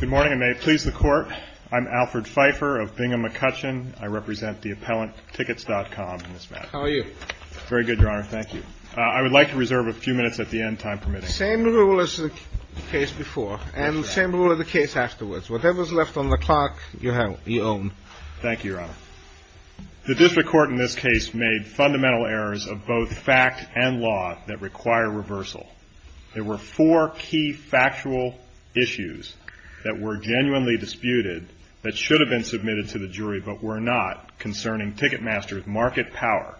Good morning, and may it please the Court, I'm Alfred Pfeiffer of Bingham McCutcheon. I represent the appellant TICKETS.COM in this matter. How are you? Very good, Your Honor. Thank you. I would like to reserve a few minutes at the end, time permitting. Same rule as the case before, and same rule as the case afterwards. Whatever's left on the clock, you own. Thank you, Your Honor. The district court in this case made fundamental errors of both fact and law that require reversal. There were four key factual issues that were genuinely disputed that should have been submitted to the jury but were not concerning Ticketmaster's market power.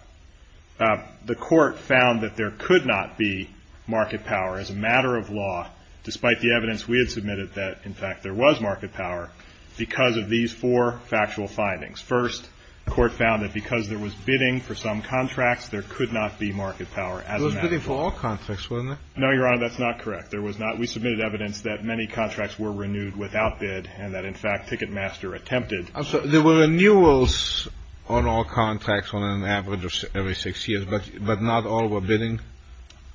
The Court found that there could not be market power as a matter of law, despite the evidence we had submitted that, in fact, there was market power, because of these four factual findings. First, the Court found that because there was bidding for some contracts, there could not be market power as a matter of law. There was bidding for all contracts, wasn't there? No, Your Honor, that's not correct. There was not. We submitted evidence that many contracts were renewed without bid, and that, in fact, Ticketmaster attempted. There were renewals on all contracts on an average of every six years, but not all were bidding?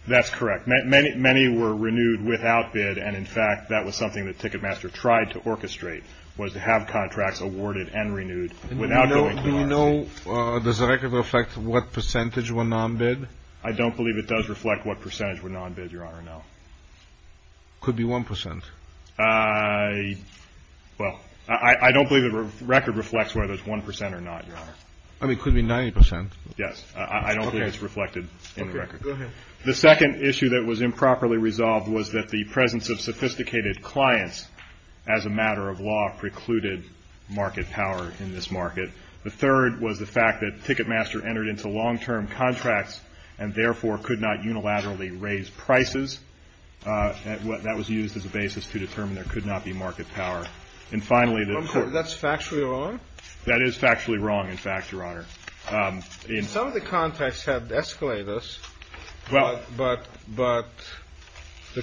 That's correct. Many were renewed without bid, and, in fact, that was something that Ticketmaster tried to orchestrate, was to have contracts awarded and renewed without going to us. Do you know, does the record reflect what percentage were non-bid? I don't believe it does reflect what percentage were non-bid, Your Honor, no. Could be 1 percent. Well, I don't believe the record reflects whether it's 1 percent or not, Your Honor. I mean, it could be 90 percent. Yes. I don't believe it's reflected in the record. Okay. Go ahead. The second issue that was improperly resolved was that the presence of sophisticated clients as a matter of law precluded market power in this market. The third was the fact that Ticketmaster entered into long-term contracts and, therefore, could not unilaterally raise prices. That was used as a basis to determine there could not be market power. And, finally, the court — That's factually wrong? That is factually wrong, in fact, Your Honor. Some of the contracts had escalators, but the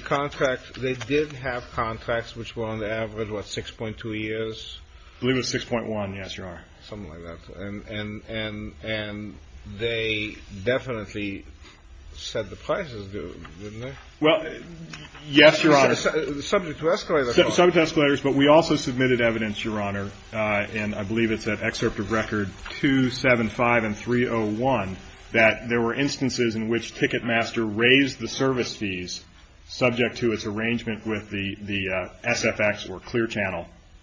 contract — they did have contracts which were on the average, what, 6.2 years? I believe it was 6.1. Yes, Your Honor. Something like that. And they definitely said the prices do, didn't they? Well, yes, Your Honor. Subject to escalators. Subject to escalators. But we also submitted evidence, Your Honor, and I believe it's at Excerpt of Record 275 and 301, that there were instances in which Ticketmaster raised the service fees subject to its arrangement with the SFX,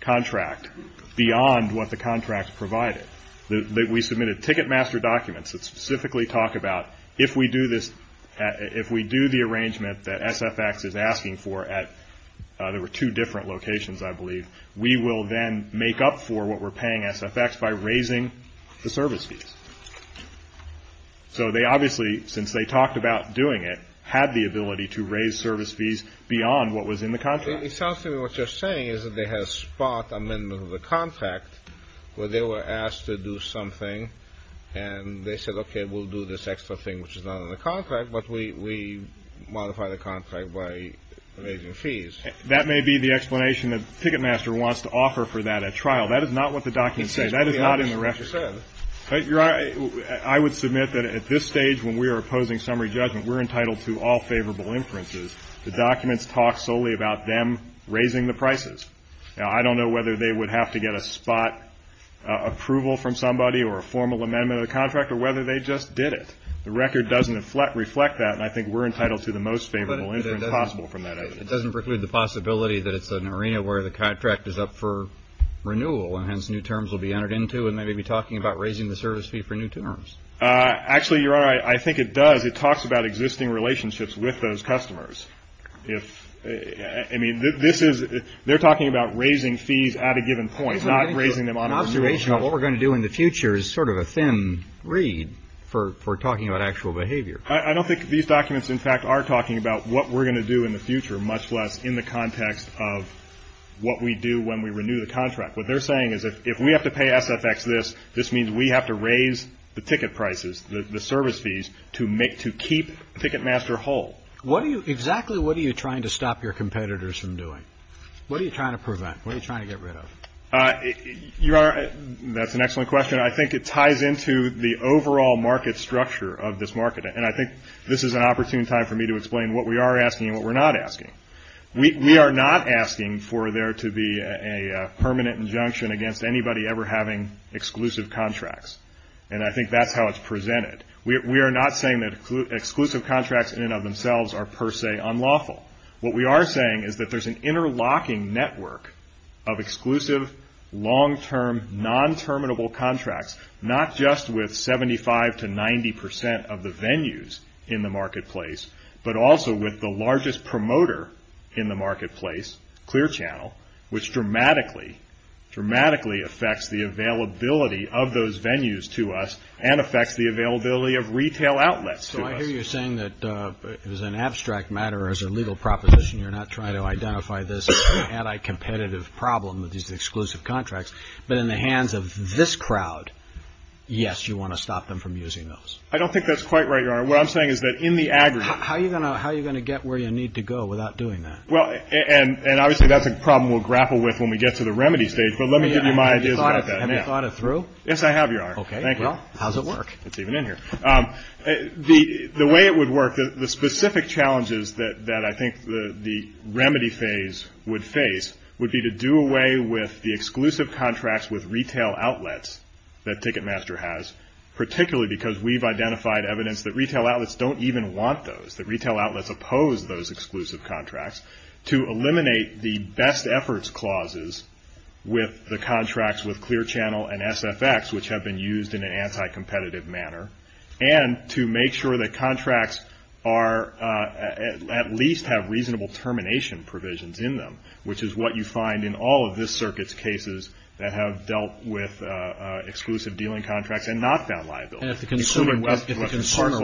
contract beyond what the contract provided. We submitted Ticketmaster documents that specifically talk about if we do this — if we do the arrangement that SFX is asking for at — there were two different locations, I believe — we will then make up for what we're paying SFX by raising the service fees. So they obviously, since they talked about doing it, had the ability to raise service fees beyond what was in the contract. It sounds to me what you're saying is that they had a spot amendment of the contract where they were asked to do something and they said, okay, we'll do this extra thing which is not in the contract, but we modify the contract by raising fees. That may be the explanation that Ticketmaster wants to offer for that at trial. That is not what the documents say. That is not in the record. I would submit that at this stage, when we are opposing summary judgment, we're entitled to all favorable inferences. The documents talk solely about them raising the prices. Now, I don't know whether they would have to get a spot approval from somebody or a formal amendment of the contract or whether they just did it. The record doesn't reflect that, and I think we're entitled to the most favorable inference possible from that evidence. But it doesn't preclude the possibility that it's an arena where the contract is up for renewal and hence new terms will be entered into, and they may be talking about raising the service fee for new terms. Actually, Your Honor, I think it does. It talks about existing relationships with those customers. I mean, they're talking about raising fees at a given point, not raising them on a renewal. An observation of what we're going to do in the future is sort of a thin reed for talking about actual behavior. I don't think these documents, in fact, are talking about what we're going to do in the future, much less in the context of what we do when we renew the contract. What they're saying is if we have to pay SFX this, this means we have to raise the ticket prices, the service fees to keep Ticketmaster whole. Exactly what are you trying to stop your competitors from doing? What are you trying to prevent? What are you trying to get rid of? Your Honor, that's an excellent question. I think it ties into the overall market structure of this market, and I think this is an opportune time for me to explain what we are asking and what we're not asking. We are not asking for there to be a permanent injunction against anybody ever having exclusive contracts, and I think that's how it's presented. We are not saying that exclusive contracts in and of themselves are per se unlawful. What we are saying is that there's an interlocking network of exclusive, long-term, non-terminable contracts, not just with 75 to 90 percent of the venues in the marketplace, but also with the largest promoter in the marketplace, Clear Channel, which dramatically, dramatically affects the availability of those venues to us and affects the availability of retail outlets to us. So I hear you saying that as an abstract matter, as a legal proposition, you're not trying to identify this anti-competitive problem with these exclusive contracts, but in the hands of this crowd, yes, you want to stop them from using those. I don't think that's quite right, Your Honor. What I'm saying is that in the aggregate. How are you going to get where you need to go without doing that? Well, and obviously that's a problem we'll grapple with when we get to the remedy stage, but let me give you my ideas about that. Have you thought it through? Yes, I have, Your Honor. Okay. Thank you. Well, how does it work? It's even in here. The way it would work, the specific challenges that I think the remedy phase would face would be to do away with the exclusive contracts with retail outlets that Ticketmaster has, particularly because we've identified evidence that retail outlets don't even want those, that retail outlets oppose those exclusive contracts, to eliminate the best efforts clauses with the contracts with Clear Channel and SFX, which have been used in an anti-competitive manner, and to make sure that contracts at least have reasonable termination provisions in them, which is what you find in all of this circuit's cases that have dealt with exclusive dealing contracts and not found liable. And if the consumer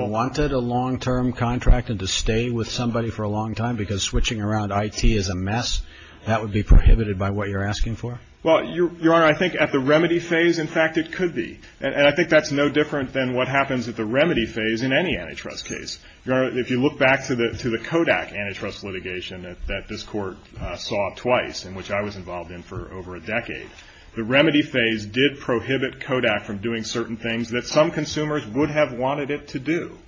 wanted a long-term contract and to stay with somebody for a long time because switching around IT is a mess, that would be prohibited by what you're asking for? Well, Your Honor, I think at the remedy phase, in fact, it could be. And I think that's no different than what happens at the remedy phase in any antitrust case. Your Honor, if you look back to the Kodak antitrust litigation that this court saw twice, in which I was involved in for over a decade, the remedy phase did prohibit Kodak from doing certain things that some consumers would have wanted it to do.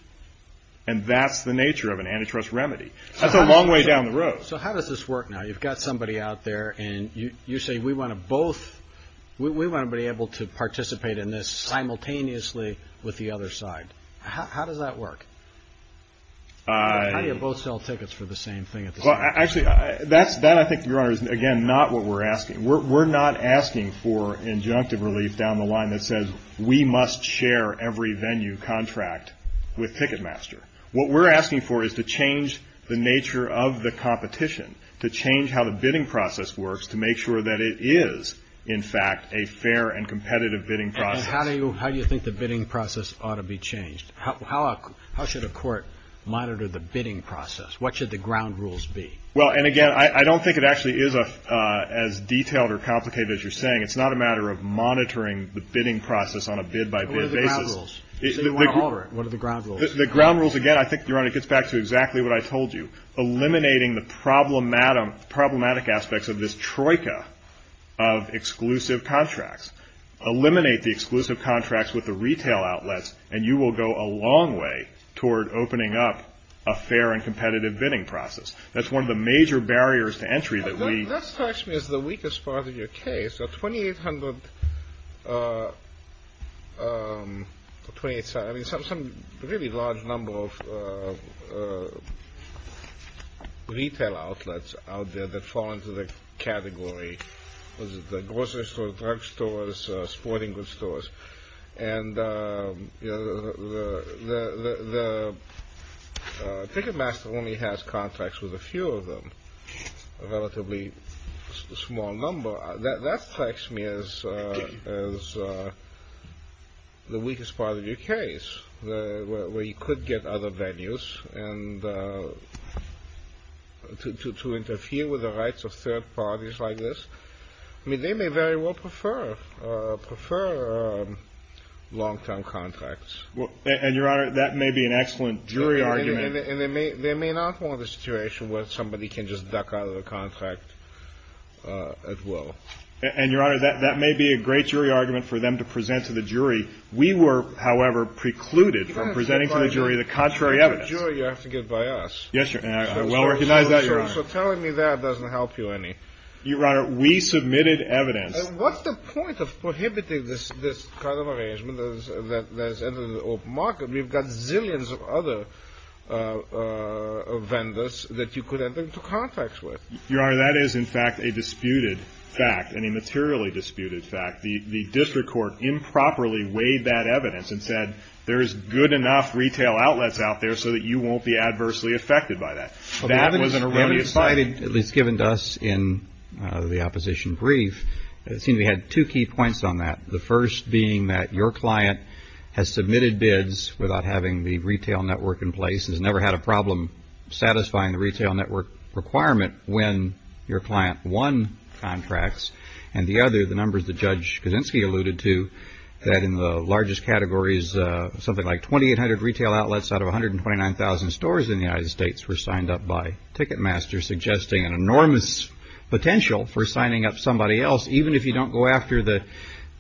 And that's the nature of an antitrust remedy. That's a long way down the road. So how does this work now? You've got somebody out there, and you say, we want to be able to participate in this simultaneously with the other side. How does that work? How do you both sell tickets for the same thing at the same time? Well, actually, that, I think, Your Honor, is, again, not what we're asking. We're not asking for injunctive relief down the line that says, we must share every venue contract with Ticketmaster. What we're asking for is to change the nature of the competition, to change how the bidding process works to make sure that it is, in fact, a fair and competitive bidding process. And how do you think the bidding process ought to be changed? How should a court monitor the bidding process? What should the ground rules be? Well, and, again, I don't think it actually is as detailed or complicated as you're saying. It's not a matter of monitoring the bidding process on a bid-by-bid basis. What are the ground rules? So you want to alter it. What are the ground rules? The ground rules, again, I think, Your Honor, gets back to exactly what I told you, eliminating the problematic aspects of this troika of exclusive contracts. Eliminate the exclusive contracts with the retail outlets, and you will go a long way toward opening up a fair and competitive bidding process. That's one of the major barriers to entry that we... That strikes me as the weakest part of your case. Twenty-eight hundred... I mean, some really large number of retail outlets out there that fall into the category. The grocery stores, drug stores, sporting goods stores. And, you know, the Ticketmaster only has contracts with a few of them, a relatively small number. That strikes me as the weakest part of your case, where you could get other venues, and to interfere with the rights of third parties like this. I mean, they may very well prefer long-term contracts. And, Your Honor, that may be an excellent jury argument. And they may not want a situation where somebody can just duck out of the contract at will. And, Your Honor, that may be a great jury argument for them to present to the jury. We were, however, precluded from presenting to the jury the contrary evidence. But as a jury, you have to get by us. Yes, Your Honor. I well recognize that, Your Honor. So telling me that doesn't help you any. Your Honor, we submitted evidence. And what's the point of prohibiting this kind of arrangement that has entered the open market? We've got zillions of other vendors that you could enter into contracts with. Your Honor, that is, in fact, a disputed fact, and a materially disputed fact. The district court improperly weighed that evidence and said, there's good enough retail outlets out there so that you won't be adversely affected by that. That was an erroneous statement. Well, the evidence provided, at least given to us in the opposition brief, it seemed we had two key points on that, the first being that your client has submitted bids without having the retail network in place, has never had a problem satisfying the retail network requirement when your client won contracts, and the other, the numbers that Judge Kaczynski alluded to, that in the largest categories, something like 2,800 retail outlets out of 129,000 stores in the United States were signed up by Ticketmaster, suggesting an enormous potential for signing up somebody else, even if you don't go after the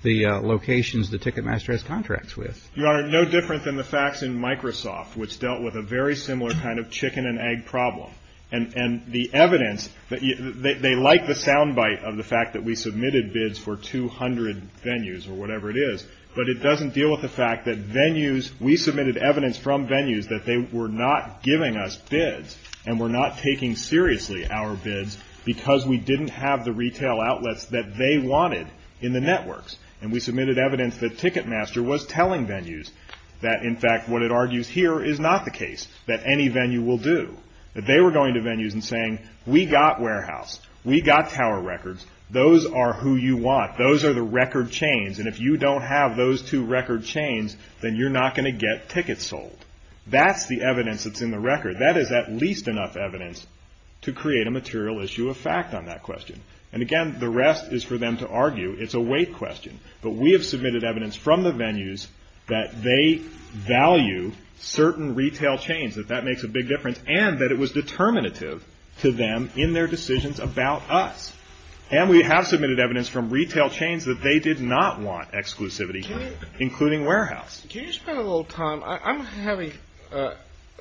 locations that Ticketmaster has contracts with. Your Honor, no different than the facts in Microsoft, which dealt with a very similar kind of chicken and egg problem. And the evidence, they like the sound bite of the fact that we submitted bids for 200 venues, or whatever it is, but it doesn't deal with the fact that venues, we submitted evidence from venues that they were not giving us bids and were not taking seriously our bids because we didn't have the retail outlets that they wanted in the networks. And we submitted evidence that Ticketmaster was telling venues that, in fact, what it argues here is not the case, that any venue will do. That they were going to venues and saying, we got warehouse, we got tower records, those are who you want, those are the record chains, and if you don't have those two record chains, then you're not going to get tickets sold. That's the evidence that's in the record. That is at least enough evidence to create a material issue of fact on that question. And again, the rest is for them to argue. It's a weight question. But we have submitted evidence from the venues that they value certain retail chains, that that makes a big difference, and that it was determinative to them in their decisions about us. And we have submitted evidence from retail chains that they did not want exclusivity, including warehouse. Can you spend a little time? I'm having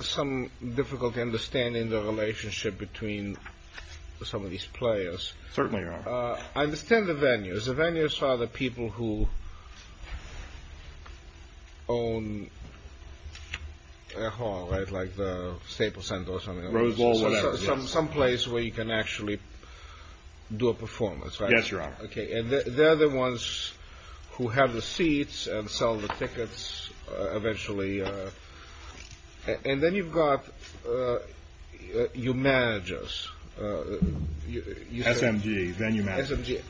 some difficulty understanding the relationship between some of these players. Certainly you are. I understand the venues. The venues are the people who own a hall, right, like the Staples Center or something. Rose Bowl, whatever. Some place where you can actually do a performance, right? Yes, Your Honor. And they're the ones who have the seats and sell the tickets eventually. And then you've got your managers. SMG, venue managers. SMG.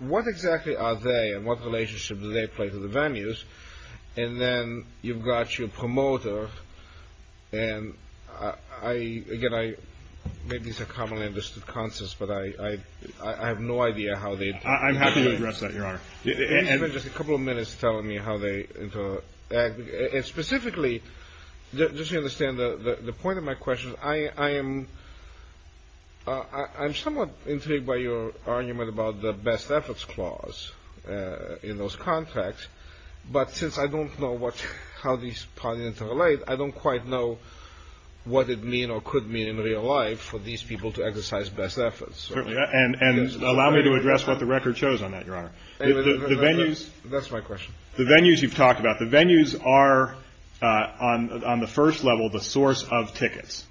What exactly are they and what relationship do they play to the venues? And then you've got your promoter. And, again, maybe these are commonly understood concepts, but I have no idea how they... I'm happy to address that, Your Honor. Can you spend just a couple of minutes telling me how they... I'm somewhat intrigued by your argument about the best efforts clause in those contracts, but since I don't know how these parties interrelate, I don't quite know what it means or could mean in real life for these people to exercise best efforts. Certainly. And allow me to address what the record shows on that, Your Honor. The venues... That's my question. The venues you've talked about. The venues are, on the first level, the source of tickets.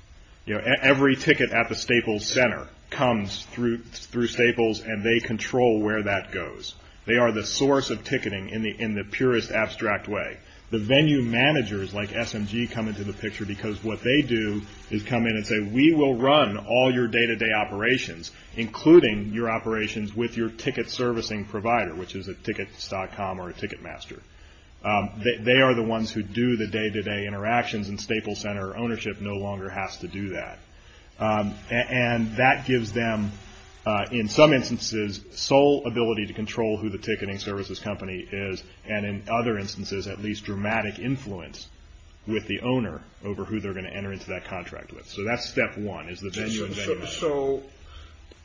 Every ticket at the Staples Center comes through Staples and they control where that goes. They are the source of ticketing in the purest abstract way. The venue managers like SMG come into the picture because what they do is come in and say, we will run all your day-to-day operations, including your operations with your ticket servicing provider, which is a tickets.com or a Ticketmaster. They are the ones who do the day-to-day interactions and Staples Center ownership no longer has to do that. And that gives them, in some instances, sole ability to control who the ticketing services company is and, in other instances, at least dramatic influence with the owner over who they're going to enter into that contract with. So that's step one is the venue and venue manager. So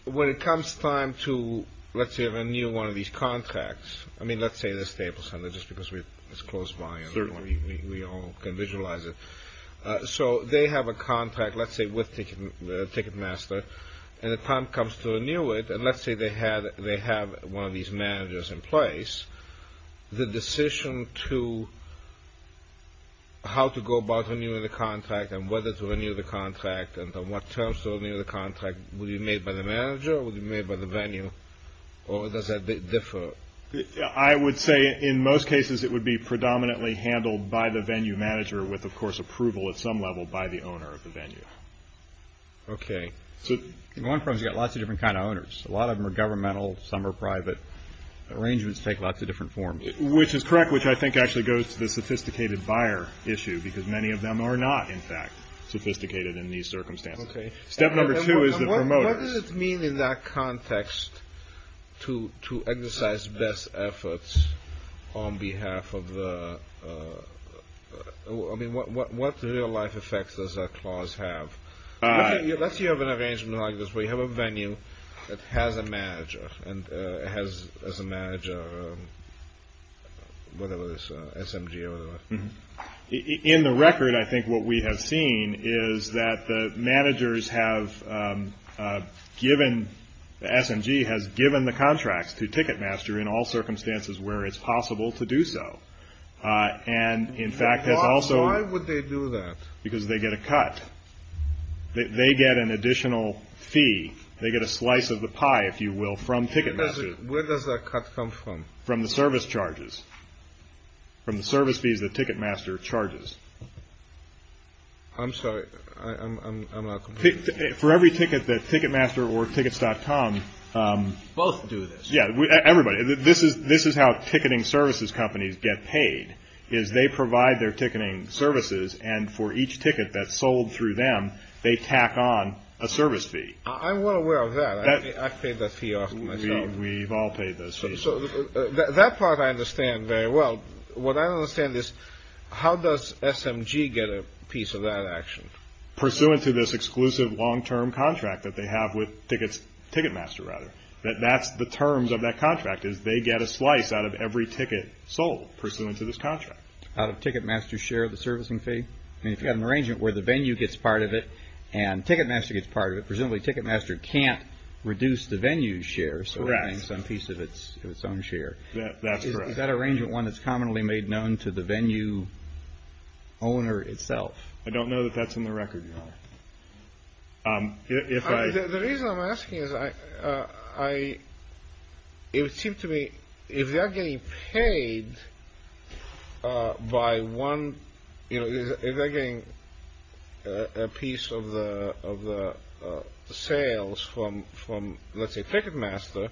when it comes time to, let's say, renew one of these contracts... Just because it's close by and we all can visualize it. So they have a contract, let's say, with Ticketmaster. And the time comes to renew it. And let's say they have one of these managers in place. The decision to how to go about renewing the contract and whether to renew the contract and on what terms to renew the contract, will it be made by the manager or will it be made by the venue? Or does that differ? I would say in most cases it would be predominantly handled by the venue manager with, of course, approval at some level by the owner of the venue. Okay. So... One firm's got lots of different kind of owners. A lot of them are governmental. Some are private. Arrangements take lots of different forms. Which is correct, which I think actually goes to the sophisticated buyer issue because many of them are not, in fact, sophisticated in these circumstances. Okay. Step number two is the promoters. What does it mean in that context to exercise best efforts on behalf of the... I mean, what real-life effects does that clause have? Let's say you have an arrangement like this where you have a venue that has a manager and it has as a manager whatever this SMG or whatever. In the record, I think what we have seen is that the managers have given... The SMG has given the contracts to Ticketmaster in all circumstances where it's possible to do so. And, in fact, has also... Why would they do that? Because they get a cut. They get an additional fee. They get a slice of the pie, if you will, from Ticketmaster. Where does that cut come from? From the service charges. From the service fees that Ticketmaster charges. I'm sorry. I'm not completely... For every ticket that Ticketmaster or tickets.com... Both do this. Yeah, everybody. This is how ticketing services companies get paid is they provide their ticketing services and for each ticket that's sold through them, they tack on a service fee. I'm well aware of that. I've paid that fee off myself. We've all paid those fees. That part I understand very well. What I don't understand is how does SMG get a piece of that action? Pursuant to this exclusive long-term contract that they have with Ticketmaster. That's the terms of that contract is they get a slice out of every ticket sold pursuant to this contract. Out of Ticketmaster's share of the servicing fee? I mean, if you've got an arrangement where the venue gets part of it and Ticketmaster gets part of it, presumably Ticketmaster can't reduce the venue's share. So they're getting some piece of its own share. That's correct. Is that arrangement one that's commonly made known to the venue owner itself? I don't know that that's on the record, Your Honor. The reason I'm asking is if they're getting a piece of the sales from, let's say, Ticketmaster,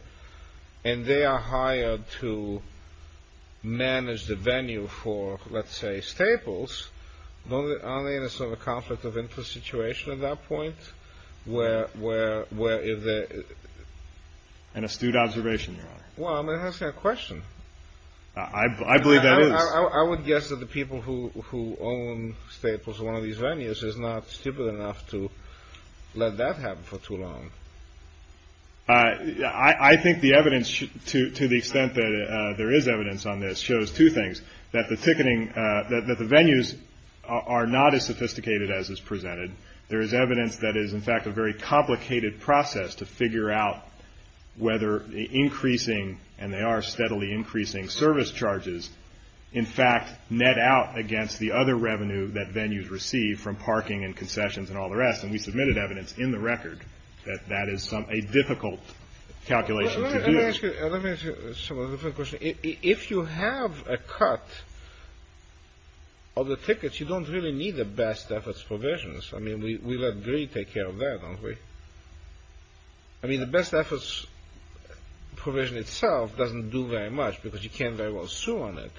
and they are hired to manage the venue for, let's say, Staples, aren't they in a sort of conflict of interest situation at that point where if they're... An astute observation, Your Honor. Well, I'm asking a question. I believe that is. I would guess that the people who own Staples, one of these venues, is not stupid enough to let that happen for too long. I think the evidence, to the extent that there is evidence on this, shows two things, that the venues are not as sophisticated as is presented. There is evidence that is, in fact, a very complicated process to figure out whether the increasing, and they are steadily increasing, service charges, in fact, net out against the other revenue that venues receive from parking and concessions and all the rest. And we submitted evidence in the record that that is a difficult calculation to do. Let me ask you some other questions. If you have a cut of the tickets, you don't really need the best efforts provisions. I mean, we let greed take care of that, don't we? I mean, the best efforts provision itself doesn't do very much because you can't very well sue on it.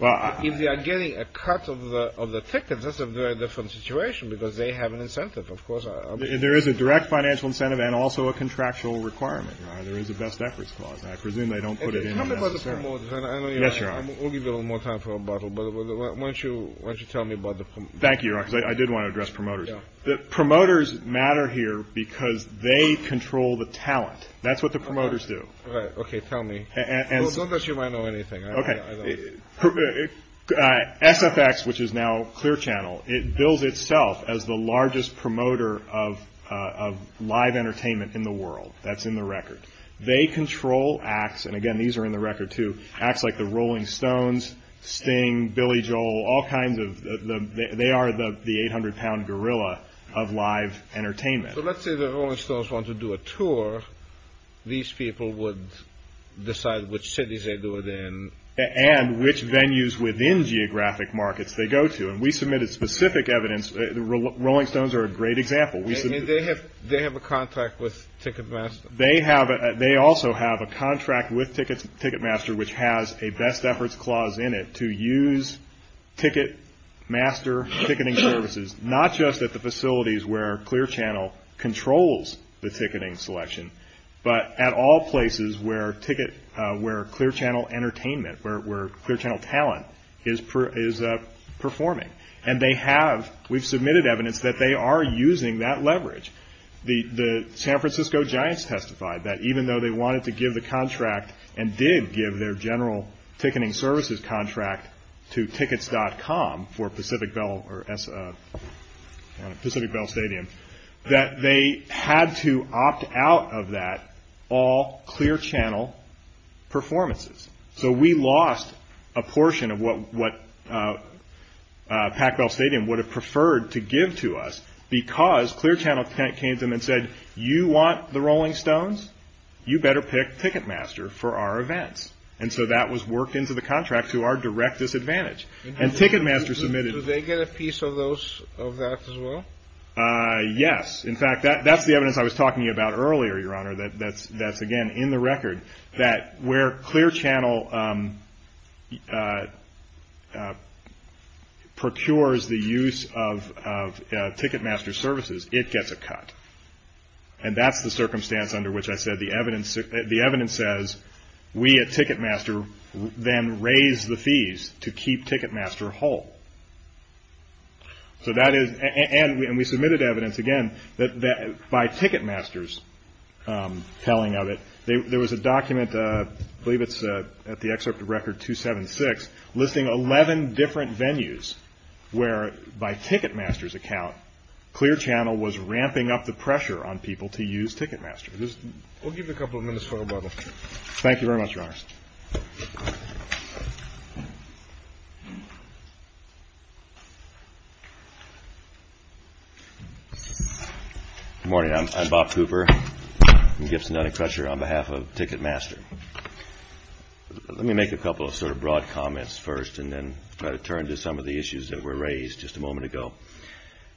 If you are getting a cut of the tickets, that's a very different situation because they have an incentive, of course. There is a direct financial incentive and also a contractual requirement. There is a best efforts clause, and I presume they don't put it in necessarily. Tell me about the promoters. Yes, Your Honor. We'll give you a little more time for a bottle, but why don't you tell me about the promoters. Thank you, Your Honor, because I did want to address promoters. Promoters matter here because they control the talent. That's what the promoters do. All right. Okay. Tell me. Not that you might know anything. Okay. SFX, which is now Clear Channel, it bills itself as the largest promoter of live entertainment in the world. That's in the record. They control acts, and again, these are in the record, too, acts like the Rolling Stones, Sting, Billy Joel, all kinds of, they are the 800-pound gorilla of live entertainment. So let's say the Rolling Stones want to do a tour. These people would decide which cities they do it in. And which venues within geographic markets they go to. And we submitted specific evidence. The Rolling Stones are a great example. They have a contract with Ticketmaster. They also have a contract with Ticketmaster which has a best efforts clause in it to use Ticketmaster ticketing services, not just at the facilities where Clear Channel controls the ticketing selection, but at all places where Clear Channel entertainment, where Clear Channel talent is performing. And they have, we've submitted evidence that they are using that leverage. The San Francisco Giants testified that even though they wanted to give the contract and did give their general ticketing services contract to Tickets.com for Pacific Bell or Pacific Bell Stadium, that they had to opt out of that all Clear Channel performances. So we lost a portion of what Pac Bell Stadium would have preferred to give to us because Clear Channel came to them and said, you want the Rolling Stones? You better pick Ticketmaster for our events. And so that was worked into the contract to our direct disadvantage. And Ticketmaster submitted. Did they get a piece of that as well? Yes. That's again in the record that where Clear Channel procures the use of Ticketmaster services, it gets a cut. And that's the circumstance under which I said the evidence says we at Ticketmaster then raise the fees to keep Ticketmaster whole. So that is, and we submitted evidence again that by Ticketmaster's telling of it, there was a document, I believe it's at the excerpt of Record 276, listing 11 different venues where by Ticketmaster's account, Clear Channel was ramping up the pressure on people to use Ticketmaster. We'll give you a couple of minutes for rebuttal. Thank you very much, Your Honors. Good morning. I'm Bob Cooper. I'm Gibson Dunning Crutcher on behalf of Ticketmaster. Let me make a couple of sort of broad comments first and then try to turn to some of the issues that were raised just a moment ago.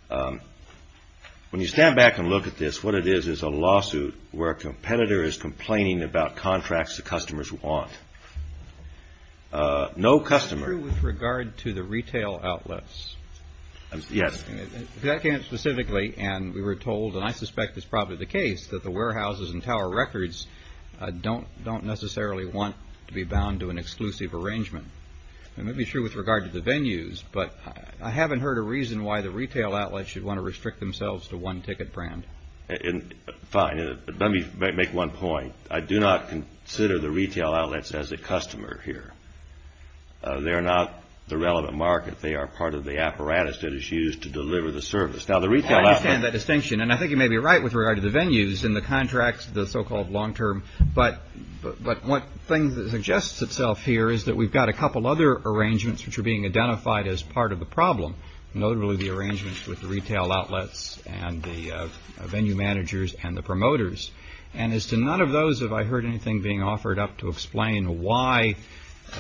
When you stand back and look at this, what it is is a lawsuit where a competitor is complaining about contracts the customers want. No customer. Is that true with regard to the retail outlets? Yes. If that came up specifically and we were told, and I suspect it's probably the case, that the warehouses and tower records don't necessarily want to be bound to an exclusive arrangement. It may be true with regard to the venues, but I haven't heard a reason why the retail outlets should want to restrict themselves to one ticket brand. Fine. Let me make one point. I do not consider the retail outlets as a customer here. They are not the relevant market. They are part of the apparatus that is used to deliver the service. I understand that distinction, and I think you may be right with regard to the venues and the contracts, the so-called long-term, but one thing that suggests itself here is that we've got a couple other arrangements which are being identified as part of the problem, notably the arrangements with the retail outlets and the venue managers and the promoters. And as to none of those, have I heard anything being offered up to explain why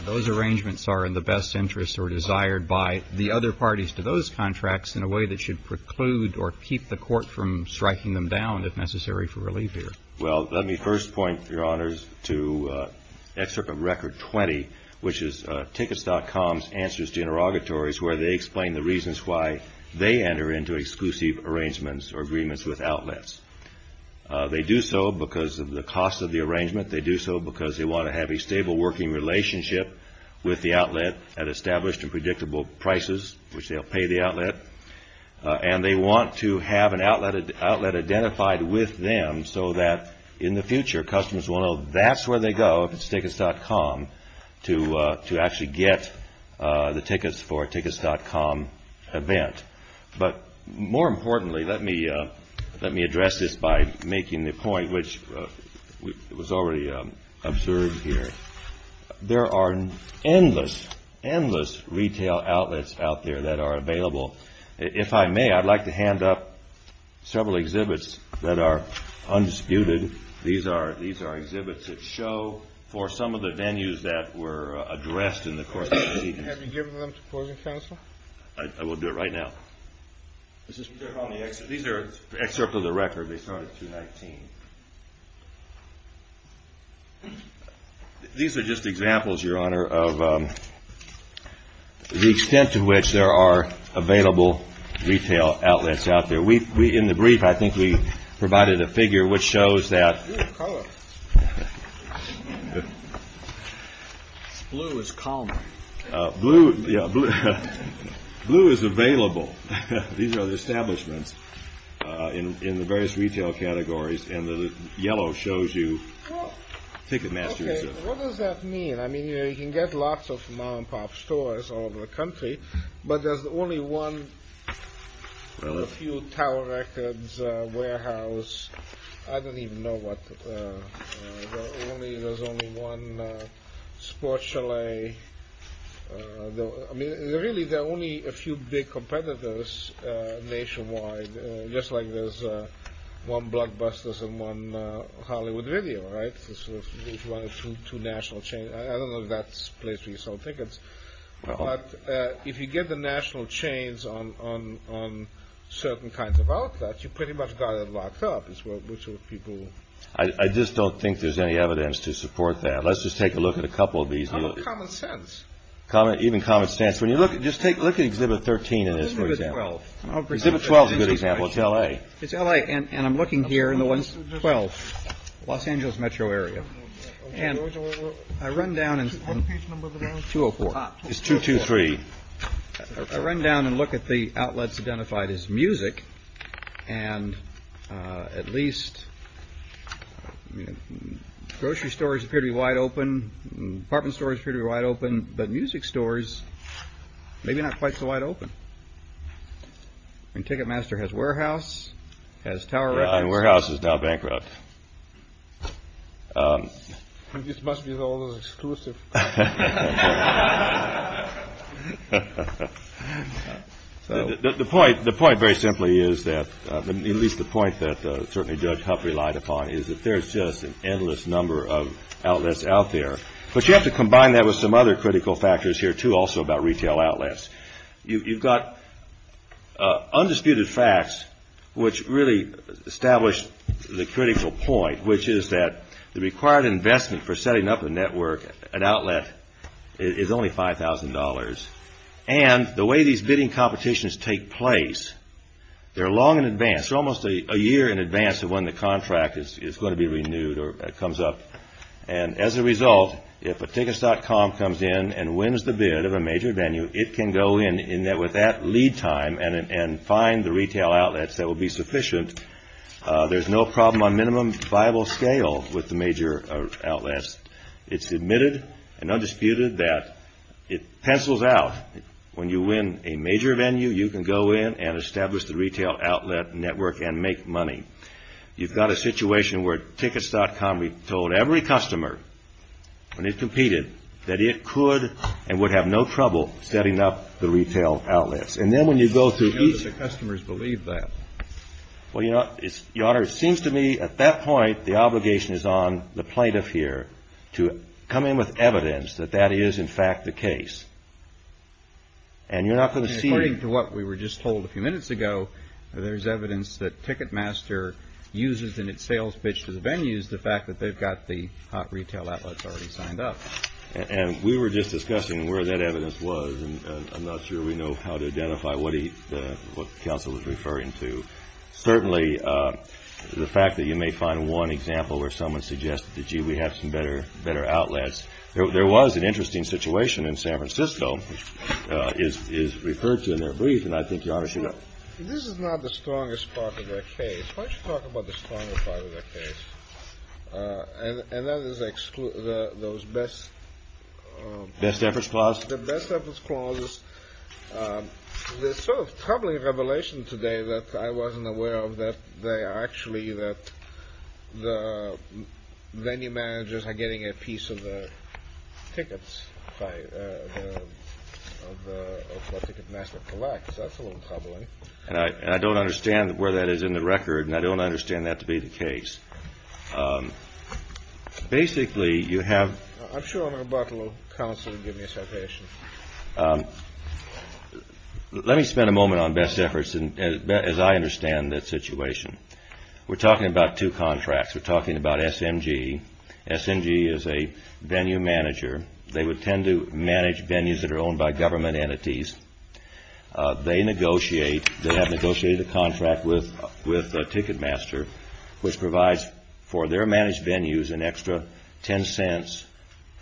those arrangements are in the best interest or desired by the other parties to those contracts in a way that should preclude or keep the court from striking them down if necessary for relief here? Well, let me first point, Your Honors, to Excerpt of Record 20, which is Tickets.com's answers to interrogatories where they explain the reasons why they enter into exclusive arrangements or agreements with outlets. They do so because of the cost of the arrangement. They do so because they want to have a stable working relationship with the outlet at established and predictable prices, which they'll pay the outlet. And they want to have an outlet identified with them so that in the future, customers will know that's where they go, if it's Tickets.com, to actually get the tickets for a Tickets.com event. But more importantly, let me address this by making the point, which was already observed here. There are endless, endless retail outlets out there that are available. If I may, I'd like to hand up several exhibits that are undisputed. These are exhibits that show for some of the venues that were addressed in the court proceedings. Have you given them to closing counsel? I will do it right now. These are excerpts of the record. They start at 219. These are just examples, Your Honor, of the extent to which there are available retail outlets out there. In the brief, I think we provided a figure which shows that. Blue is available. These are the establishments in the various retail categories, and the yellow shows you Ticketmaster. What does that mean? I mean, you can get lots of mom-and-pop stores all over the country, but there's only one in a few Tower Records warehouse. I don't even know what. There's only one Sports Chalet. I mean, really, there are only a few big competitors nationwide, just like there's one Bloodbusters and one Hollywood Video, right? There's one or two national chains. I don't know if that's the place where you sell tickets. But if you get the national chains on certain kinds of outlets, you pretty much got it locked up, which is what people. I just don't think there's any evidence to support that. Let's just take a look at a couple of these. Common sense. Even common sense. Just look at Exhibit 13 in this, for example. Exhibit 12 is a good example. It's L.A. It's L.A., and I'm looking here in the one, 12, Los Angeles metro area. And I run down in 204. It's 223. I run down and look at the outlets identified as music, and at least grocery stores appear to be wide open, apartment stores appear to be wide open, but music stores, maybe not quite so wide open. I mean, Ticketmaster has warehouse, has Tower Records. And warehouse is now bankrupt. This must be all exclusive. The point, very simply, is that, at least the point that certainly Judge Huff relied upon, is that there's just an endless number of outlets out there. But you have to combine that with some other critical factors here, too, also about retail outlets. You've got undisputed facts which really establish the critical point, which is that the required investment for setting up a network, an outlet, is only $5,000. And the way these bidding competitions take place, they're long in advance. They're almost a year in advance of when the contract is going to be renewed or comes up. And as a result, if a tickets.com comes in and wins the bid of a major venue, it can go in. And with that lead time and find the retail outlets that will be sufficient, there's no problem on minimum viable scale with the major outlets. It's admitted and undisputed that it pencils out. When you win a major venue, you can go in and establish the retail outlet network and make money. You've got a situation where tickets.com told every customer when it competed that it could and would have no trouble setting up the retail outlets. And then when you go through each. Now, do the customers believe that? Well, Your Honor, it seems to me at that point the obligation is on the plaintiff here to come in with evidence that that is, in fact, the case. And you're not going to see. And according to what we were just told a few minutes ago, there's evidence that Ticketmaster uses in its sales pitch to the venues the fact that they've got the hot retail outlets already signed up. And we were just discussing where that evidence was, and I'm not sure we know how to identify what the counsel was referring to. Certainly, the fact that you may find one example where someone suggested that, gee, we have some better outlets. There was an interesting situation in San Francisco, which is referred to in their brief, and I think Your Honor should know. This is not the strongest part of their case. Why don't you talk about the strongest part of their case? And that is those best efforts clauses. The best efforts clauses. The sort of troubling revelation today that I wasn't aware of, that actually the venue managers are getting a piece of the tickets, of what Ticketmaster collects. That's a little troubling. And I don't understand where that is in the record, and I don't understand that to be the case. Basically, you have... I'm sure I'm about to let counsel give me a citation. Let me spend a moment on best efforts as I understand that situation. We're talking about two contracts. We're talking about SMG. SMG is a venue manager. They would tend to manage venues that are owned by government entities. They negotiate. They have negotiated a contract with Ticketmaster, which provides for their managed venues an extra $0.10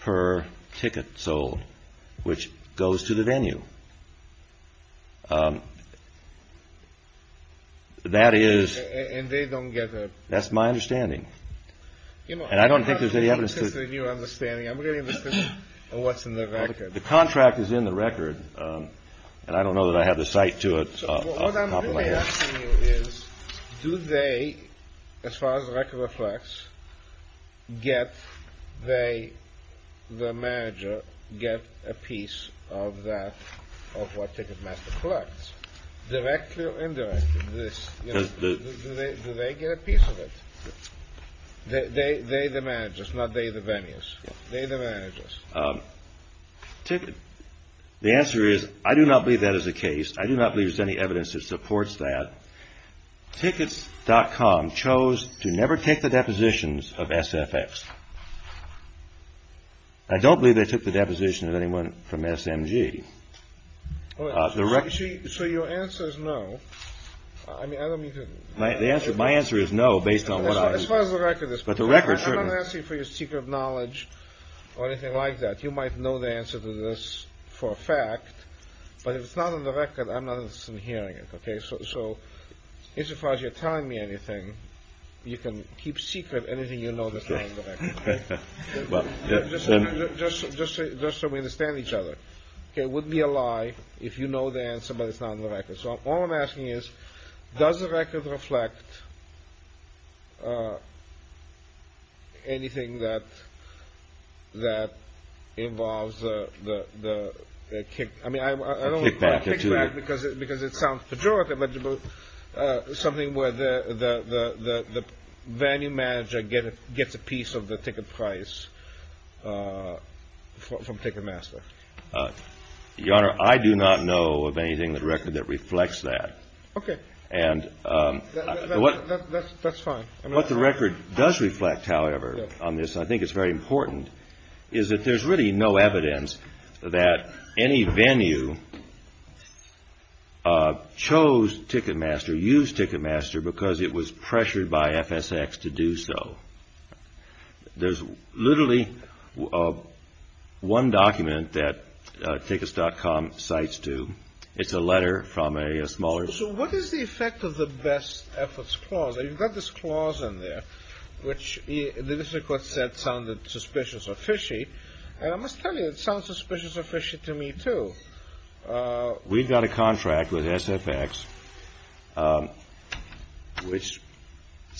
per ticket sold, which goes to the venue. That is... And they don't get a... That's my understanding. And I don't think there's any evidence... This is a new understanding. I'm really interested in what's in the record. The contract is in the record, and I don't know that I have the cite to it. What I'm really asking you is, do they, as far as the record reflects, get, they, the manager, get a piece of that, of what Ticketmaster collects, directly or indirectly? Do they get a piece of it? They, the managers. The answer is, I do not believe that is the case. I do not believe there's any evidence that supports that. Tickets.com chose to never take the depositions of SFX. I don't believe they took the deposition of anyone from SMG. So your answer is no. I mean, I don't mean to... My answer is no, based on what I... As far as the record is concerned. But the record certainly. I'm not asking for your secret knowledge or anything like that. You might know the answer to this for a fact. But if it's not in the record, I'm not interested in hearing it. So, as far as you're telling me anything, you can keep secret anything you know that's not in the record. Just so we understand each other. It would be a lie if you know the answer but it's not in the record. So all I'm asking is, does the record reflect anything that involves the kickback? I don't mean kickback because it sounds pejorative. But something where the venue manager gets a piece of the ticket price from Ticketmaster. Your Honor, I do not know of anything in the record that reflects that. Okay. And... That's fine. What the record does reflect, however, on this, I think it's very important, is that there's really no evidence that any venue chose Ticketmaster, used Ticketmaster because it was pressured by FSX to do so. There's literally one document that Tickets.com cites to. It's a letter from a smaller... So what is the effect of the best efforts clause? You've got this clause in there, which the record said sounded suspicious or fishy. And I must tell you, it sounds suspicious or fishy to me, too. We've got a contract with SFX, which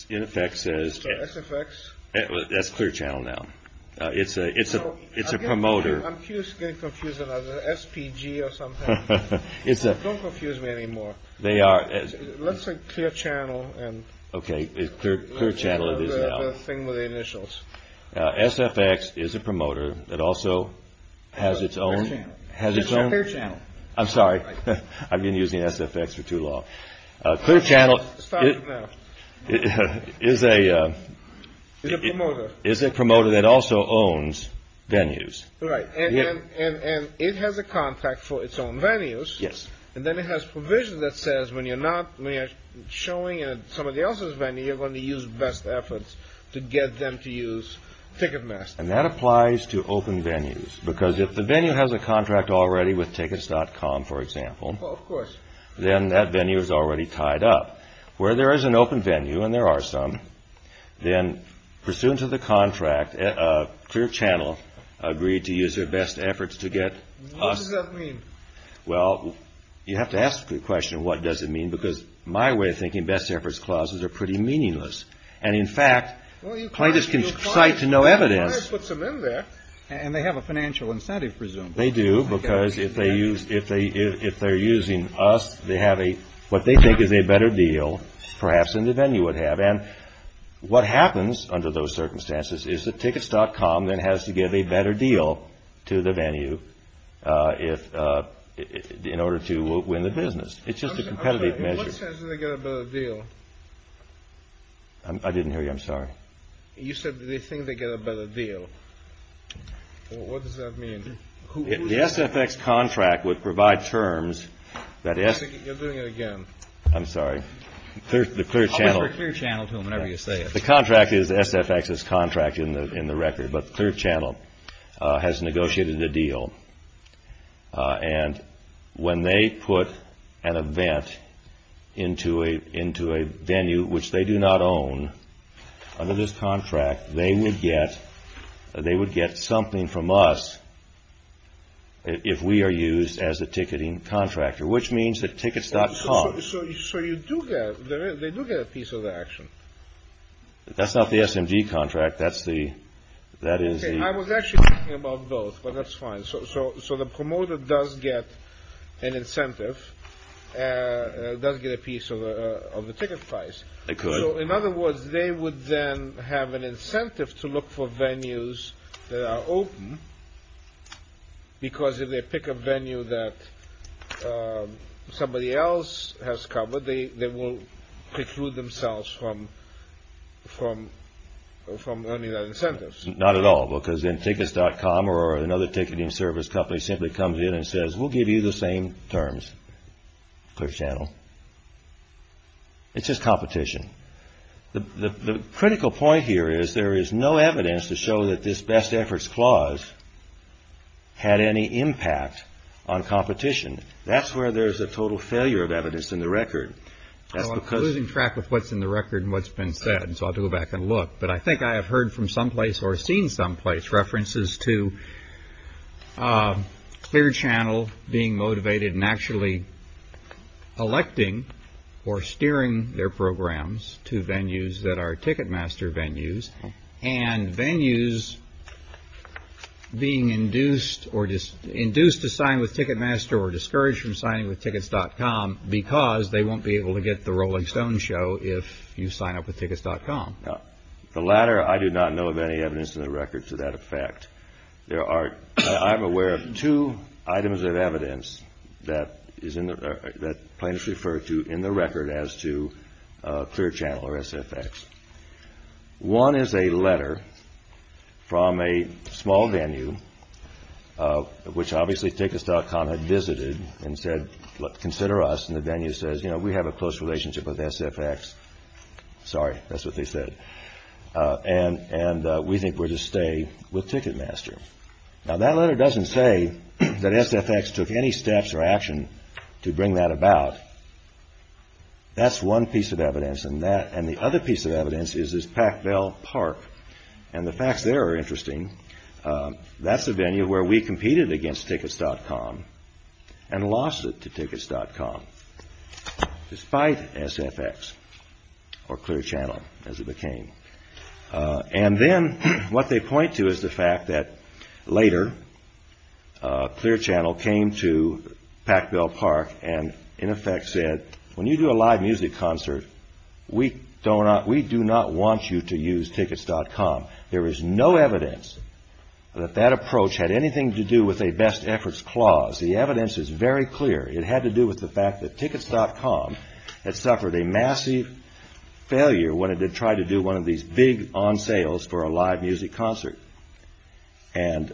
in effect says... So SFX. That's Clear Channel now. It's a promoter. I'm confused. I'm getting confused about the SPG or something. Don't confuse me anymore. They are... Let's say Clear Channel. Okay, Clear Channel it is now. The thing with the initials. SFX is a promoter that also has its own... Clear Channel. I'm sorry. I've been using SFX for too long. Clear Channel... Stop it now. Is a... Is a promoter. Is a promoter that also owns venues. Right. And it has a contract for its own venues. Yes. And then it has provisions that says when you're not... When you're showing at somebody else's venue, you're going to use best efforts to get them to use Ticketmaster. And that applies to open venues. Because if the venue has a contract already with Tickets.com, for example... Well, of course. Then that venue is already tied up. Where there is an open venue, and there are some... Then pursuant to the contract, Clear Channel agreed to use their best efforts to get us... What does that mean? Well, you have to ask the question, what does it mean? Because my way of thinking, best efforts clauses are pretty meaningless. And in fact... Well, you can't... Plaintiffs can cite to no evidence... You can't put some in there. And they have a financial incentive, presumably. They do. Because if they're using us, they have a... What they think is a better deal, perhaps, than the venue would have. And what happens under those circumstances is that Tickets.com then has to give a better deal to the venue... In order to win the business. It's just a competitive measure. What sense did they get a better deal? I didn't hear you. I'm sorry. You said they think they get a better deal. What does that mean? The SFX contract would provide terms... You're doing it again. I'm sorry. I'll whisper clear channel to him whenever you say it. The contract is SFX's contract in the record. But the clear channel has negotiated a deal. And when they put an event into a venue, which they do not own, under this contract, they would get something from us if we are used as the ticketing contractor. Which means that Tickets.com... So you do get... They do get a piece of the action. That's not the SMG contract. That is the... I was actually thinking about both. But that's fine. So the promoter does get an incentive. Does get a piece of the ticket price. They could. So in other words, they would then have an incentive to look for venues that are open. Because if they pick a venue that somebody else has covered, they will preclude themselves from earning that incentive. Not at all. Because then Tickets.com or another ticketing service company simply comes in and says, we'll give you the same terms, clear channel. It's just competition. The critical point here is there is no evidence to show that this best efforts clause had any impact on competition. That's where there's a total failure of evidence in the record. I'm losing track of what's in the record and what's been said. So I'll go back and look. But I think I have heard from someplace or seen someplace references to clear channel being motivated and actually electing or steering their programs to venues that are Ticketmaster venues and venues being induced or induced to sign with Ticketmaster or discouraged from signing with Tickets.com because they won't be able to get the Rolling Stones show if you sign up with Tickets.com. The latter, I do not know of any evidence in the record to that effect. I'm aware of two items of evidence that plaintiffs refer to in the record as to clear channel or SFX. One is a letter from a small venue, which obviously Tickets.com had visited and said, look, consider us. And the venue says, you know, we have a close relationship with SFX. Sorry, that's what they said. And and we think we're to stay with Ticketmaster. Now, that letter doesn't say that SFX took any steps or action to bring that about. That's one piece of evidence. And that and the other piece of evidence is is Pac Bell Park. And the facts there are interesting. That's a venue where we competed against Tickets.com and lost it to Tickets.com despite SFX or clear channel as it became. And then what they point to is the fact that later Clear Channel came to Pac Bell Park and in effect said, when you do a live music concert, we don't we do not want you to use Tickets.com. There is no evidence that that approach had anything to do with a best efforts clause. The evidence is very clear. It had to do with the fact that Tickets.com had suffered a massive failure when it did try to do one of these big on sales for a live music concert. And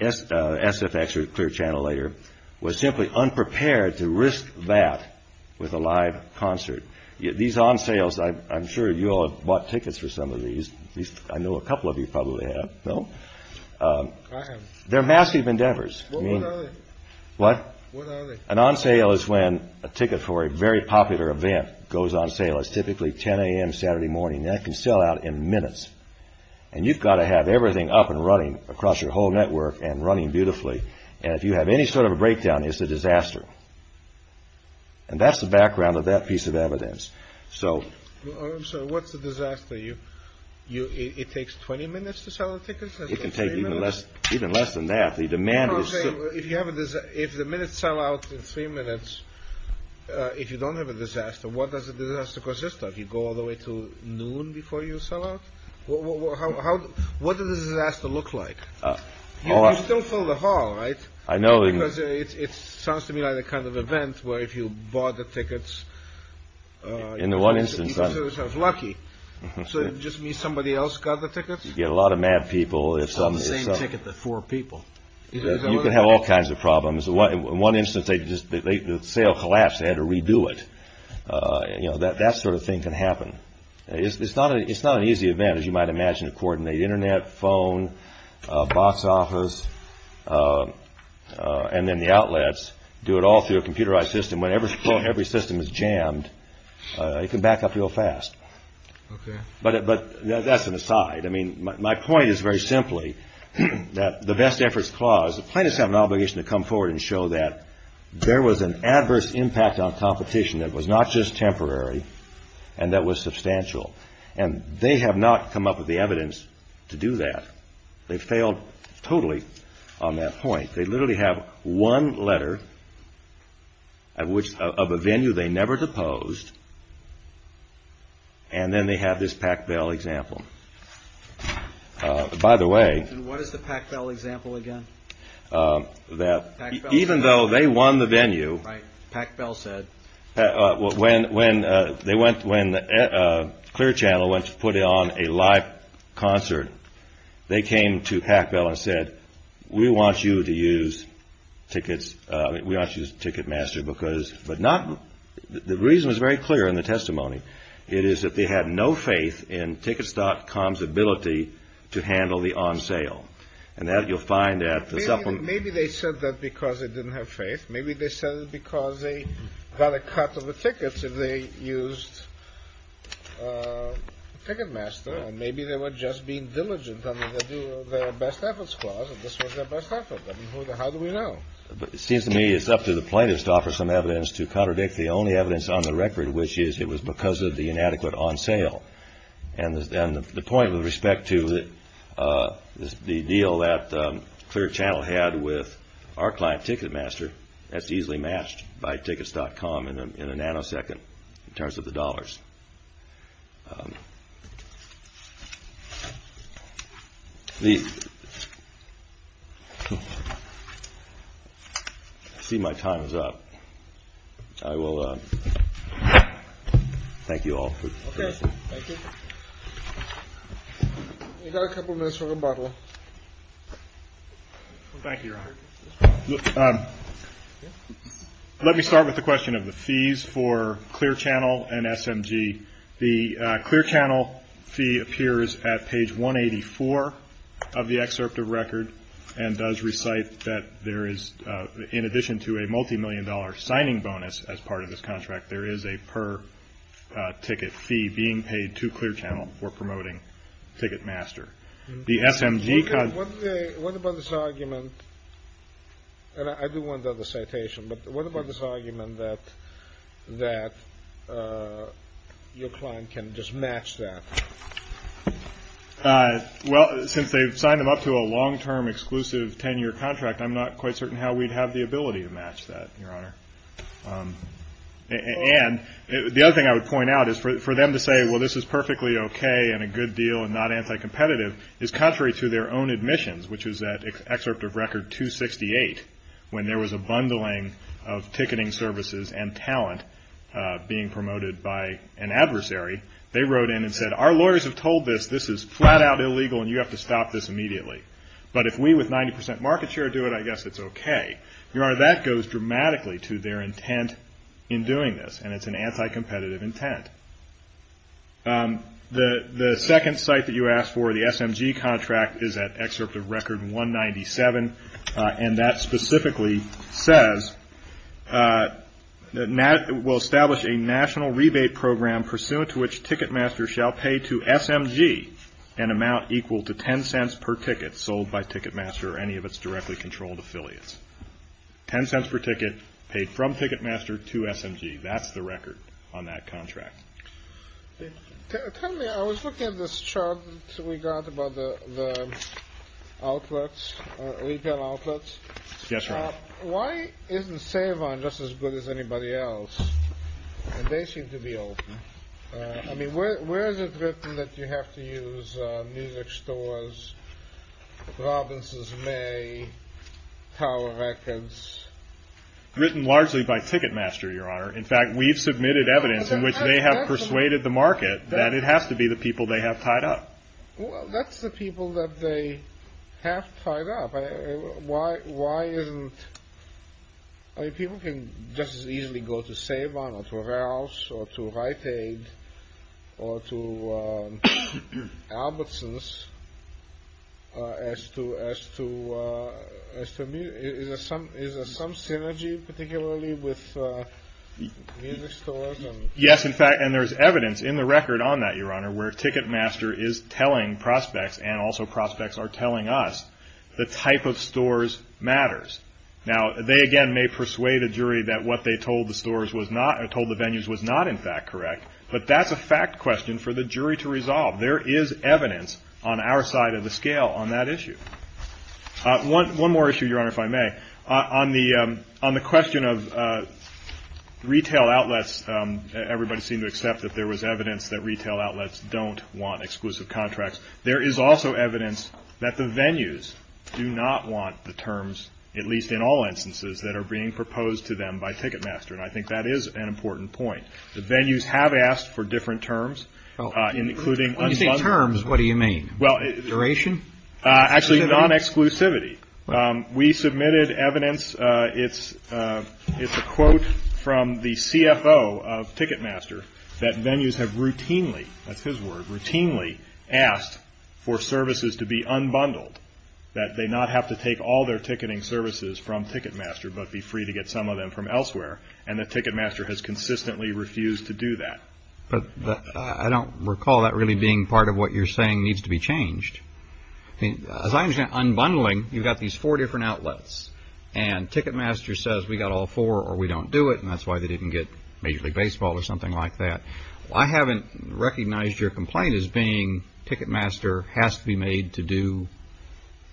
SFX or Clear Channel later was simply unprepared to risk that with a live concert. These on sales, I'm sure you all have bought tickets for some of these. I know a couple of you probably have. No, they're massive endeavors. I mean, what an on sale is when a ticket for a very popular event goes on sale is typically 10 a.m. Saturday morning that can sell out in minutes. And you've got to have everything up and running across your whole network and running beautifully. And if you have any sort of a breakdown, it's a disaster. And that's the background of that piece of evidence. So what's the disaster? You you. It takes 20 minutes to sell a ticket. It can take even less, even less than that. The demand is if you have this, if the minutes sell out in three minutes, if you don't have a disaster, what does the disaster consist of? You go all the way to noon before you sell out. What does this has to look like? You still fill the hall, right? I know. It sounds to me like the kind of event where if you bought the tickets. In the one instance, I was lucky. So it just means somebody else got the tickets. You get a lot of mad people. It's the same ticket that four people. You can have all kinds of problems. In one instance, they just the sale collapsed. They had to redo it. That sort of thing can happen. It's not it's not an easy event, as you might imagine, according to the Internet phone box office and then the outlets do it all through a computerized system. Whenever every system is jammed, it can back up real fast. But but that's an aside. I mean, my point is very simply that the best efforts clause, the plaintiffs have an obligation to come forward and show that there was an adverse impact on competition. It was not just temporary. And that was substantial. And they have not come up with the evidence to do that. They failed totally on that point. They literally have one letter. At which of a venue they never deposed. And then they have this Pac Bell example. By the way, what is the Pac Bell example again? That even though they won the venue, Pac Bell said when when they went when Clear Channel went to put on a live concert, they came to Pac Bell and said, we want you to use tickets. We want you to ticket master because but not the reason is very clear in the testimony. It is that they had no faith in tickets.com's ability to handle the on sale. And that you'll find that maybe they said that because they didn't have faith. Maybe they said it because they got a cut of the tickets and they used ticket master. And maybe they were just being diligent. I mean, they do their best efforts. This was their best effort. How do we know? But it seems to me it's up to the plaintiffs to offer some evidence to contradict the only evidence on the record, which is it was because of the inadequate on sale. And the point with respect to the deal that Clear Channel had with our client Ticketmaster, that's easily matched by tickets.com in a nanosecond in terms of the dollars. I see my time is up. I will thank you all. Okay. Thank you. We've got a couple minutes for rebuttal. Thank you, Your Honor. Let me start with the question of the fees for Clear Channel and SMG. The Clear Channel fee appears at page 184 of the excerpt of record and does recite that there is, in addition to a multimillion dollar signing bonus as part of this contract, there is a per ticket fee being paid to Clear Channel for promoting Ticketmaster. The SMG. What about this argument? And I do want to do the citation, but what about this argument that your client can just match that? Well, since they've signed them up to a long-term exclusive 10-year contract, I'm not quite certain how we'd have the ability to match that, Your Honor. And the other thing I would point out is for them to say, well, this is perfectly okay and a good deal and not anti-competitive is contrary to their own admissions, which is that excerpt of record 268 when there was a bundling of ticketing services and talent being promoted by an adversary. They wrote in and said, our lawyers have told us this is flat-out illegal and you have to stop this immediately. But if we with 90% market share do it, I guess it's okay. Your Honor, that goes dramatically to their intent in doing this, and it's an anti-competitive intent. The second site that you asked for, the SMG contract, is that excerpt of record 197, and that specifically says, we'll establish a national rebate program pursuant to which Ticketmaster shall pay to SMG an amount equal to $0.10 per ticket sold by Ticketmaster or any of its directly controlled affiliates. $0.10 per ticket paid from Ticketmaster to SMG. That's the record on that contract. Tell me, I was looking at this chart we got about the outlets, retail outlets. Yes, Your Honor. Why isn't Savon just as good as anybody else? And they seem to be open. I mean, where is it written that you have to use music stores, Robinson's May, Tower Records? Written largely by Ticketmaster, Your Honor. In fact, we've submitted evidence in which they have persuaded the market that it has to be the people they have tied up. Well, that's the people that they have tied up. Why isn't, I mean, people can just as easily go to Savon or to Rouse or to Rite Aid or to Albertson's as to music. Is there some synergy particularly with music stores? Yes, in fact, and there's evidence in the record on that, Your Honor, where Ticketmaster is telling prospects and also prospects are telling us the type of stores matters. Now, they, again, may persuade a jury that what they told the venues was not in fact correct, but that's a fact question for the jury to resolve. There is evidence on our side of the scale on that issue. One more issue, Your Honor, if I may. On the question of retail outlets, everybody seemed to accept that there was evidence that retail outlets don't want exclusive contracts. There is also evidence that the venues do not want the terms, at least in all instances, that are being proposed to them by Ticketmaster, and I think that is an important point. The venues have asked for different terms, including unsponsored. When you say terms, what do you mean? Duration? Actually, non-exclusivity. We submitted evidence. It's a quote from the CFO of Ticketmaster that venues have routinely, that's his word, routinely asked for services to be unbundled, that they not have to take all their ticketing services from Ticketmaster, but be free to get some of them from elsewhere, and that Ticketmaster has consistently refused to do that. But I don't recall that really being part of what you're saying needs to be changed. As I understand, unbundling, you've got these four different outlets, and Ticketmaster says we've got all four or we don't do it, and that's why they didn't get Major League Baseball or something like that. I haven't recognized your complaint as being Ticketmaster has to be made to do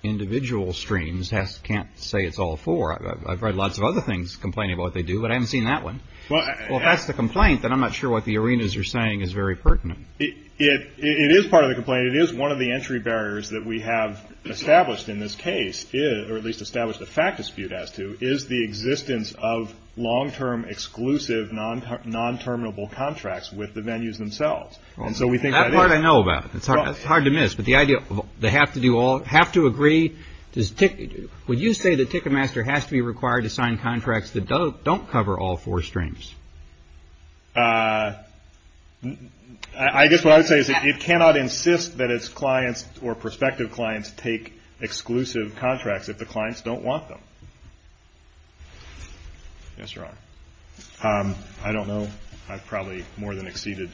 individual streams, can't say it's all four. I've read lots of other things complaining about what they do, but I haven't seen that one. Well, if that's the complaint, then I'm not sure what the arenas are saying is very pertinent. It is part of the complaint. It is one of the entry barriers that we have established in this case, or at least established the fact dispute as to, is the existence of long-term exclusive non-terminable contracts with the venues themselves. That part I know about. It's hard to miss, but the idea of they have to agree. Would you say that Ticketmaster has to be required to sign contracts that don't cover all four streams? I guess what I would say is that it cannot insist that its clients or prospective clients take exclusive contracts if the clients don't want them. Yes, Your Honor. I don't know. I've probably more than exceeded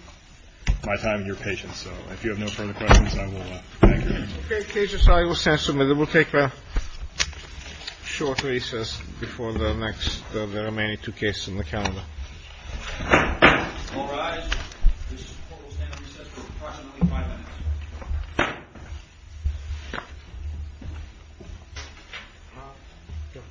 my time and your patience. So if you have no further questions, I will thank you. Okay, cases, I will stand submitted. We'll take a short recess before the next of the remaining two cases in the calendar. All rise. This court will stand at recess for approximately five minutes.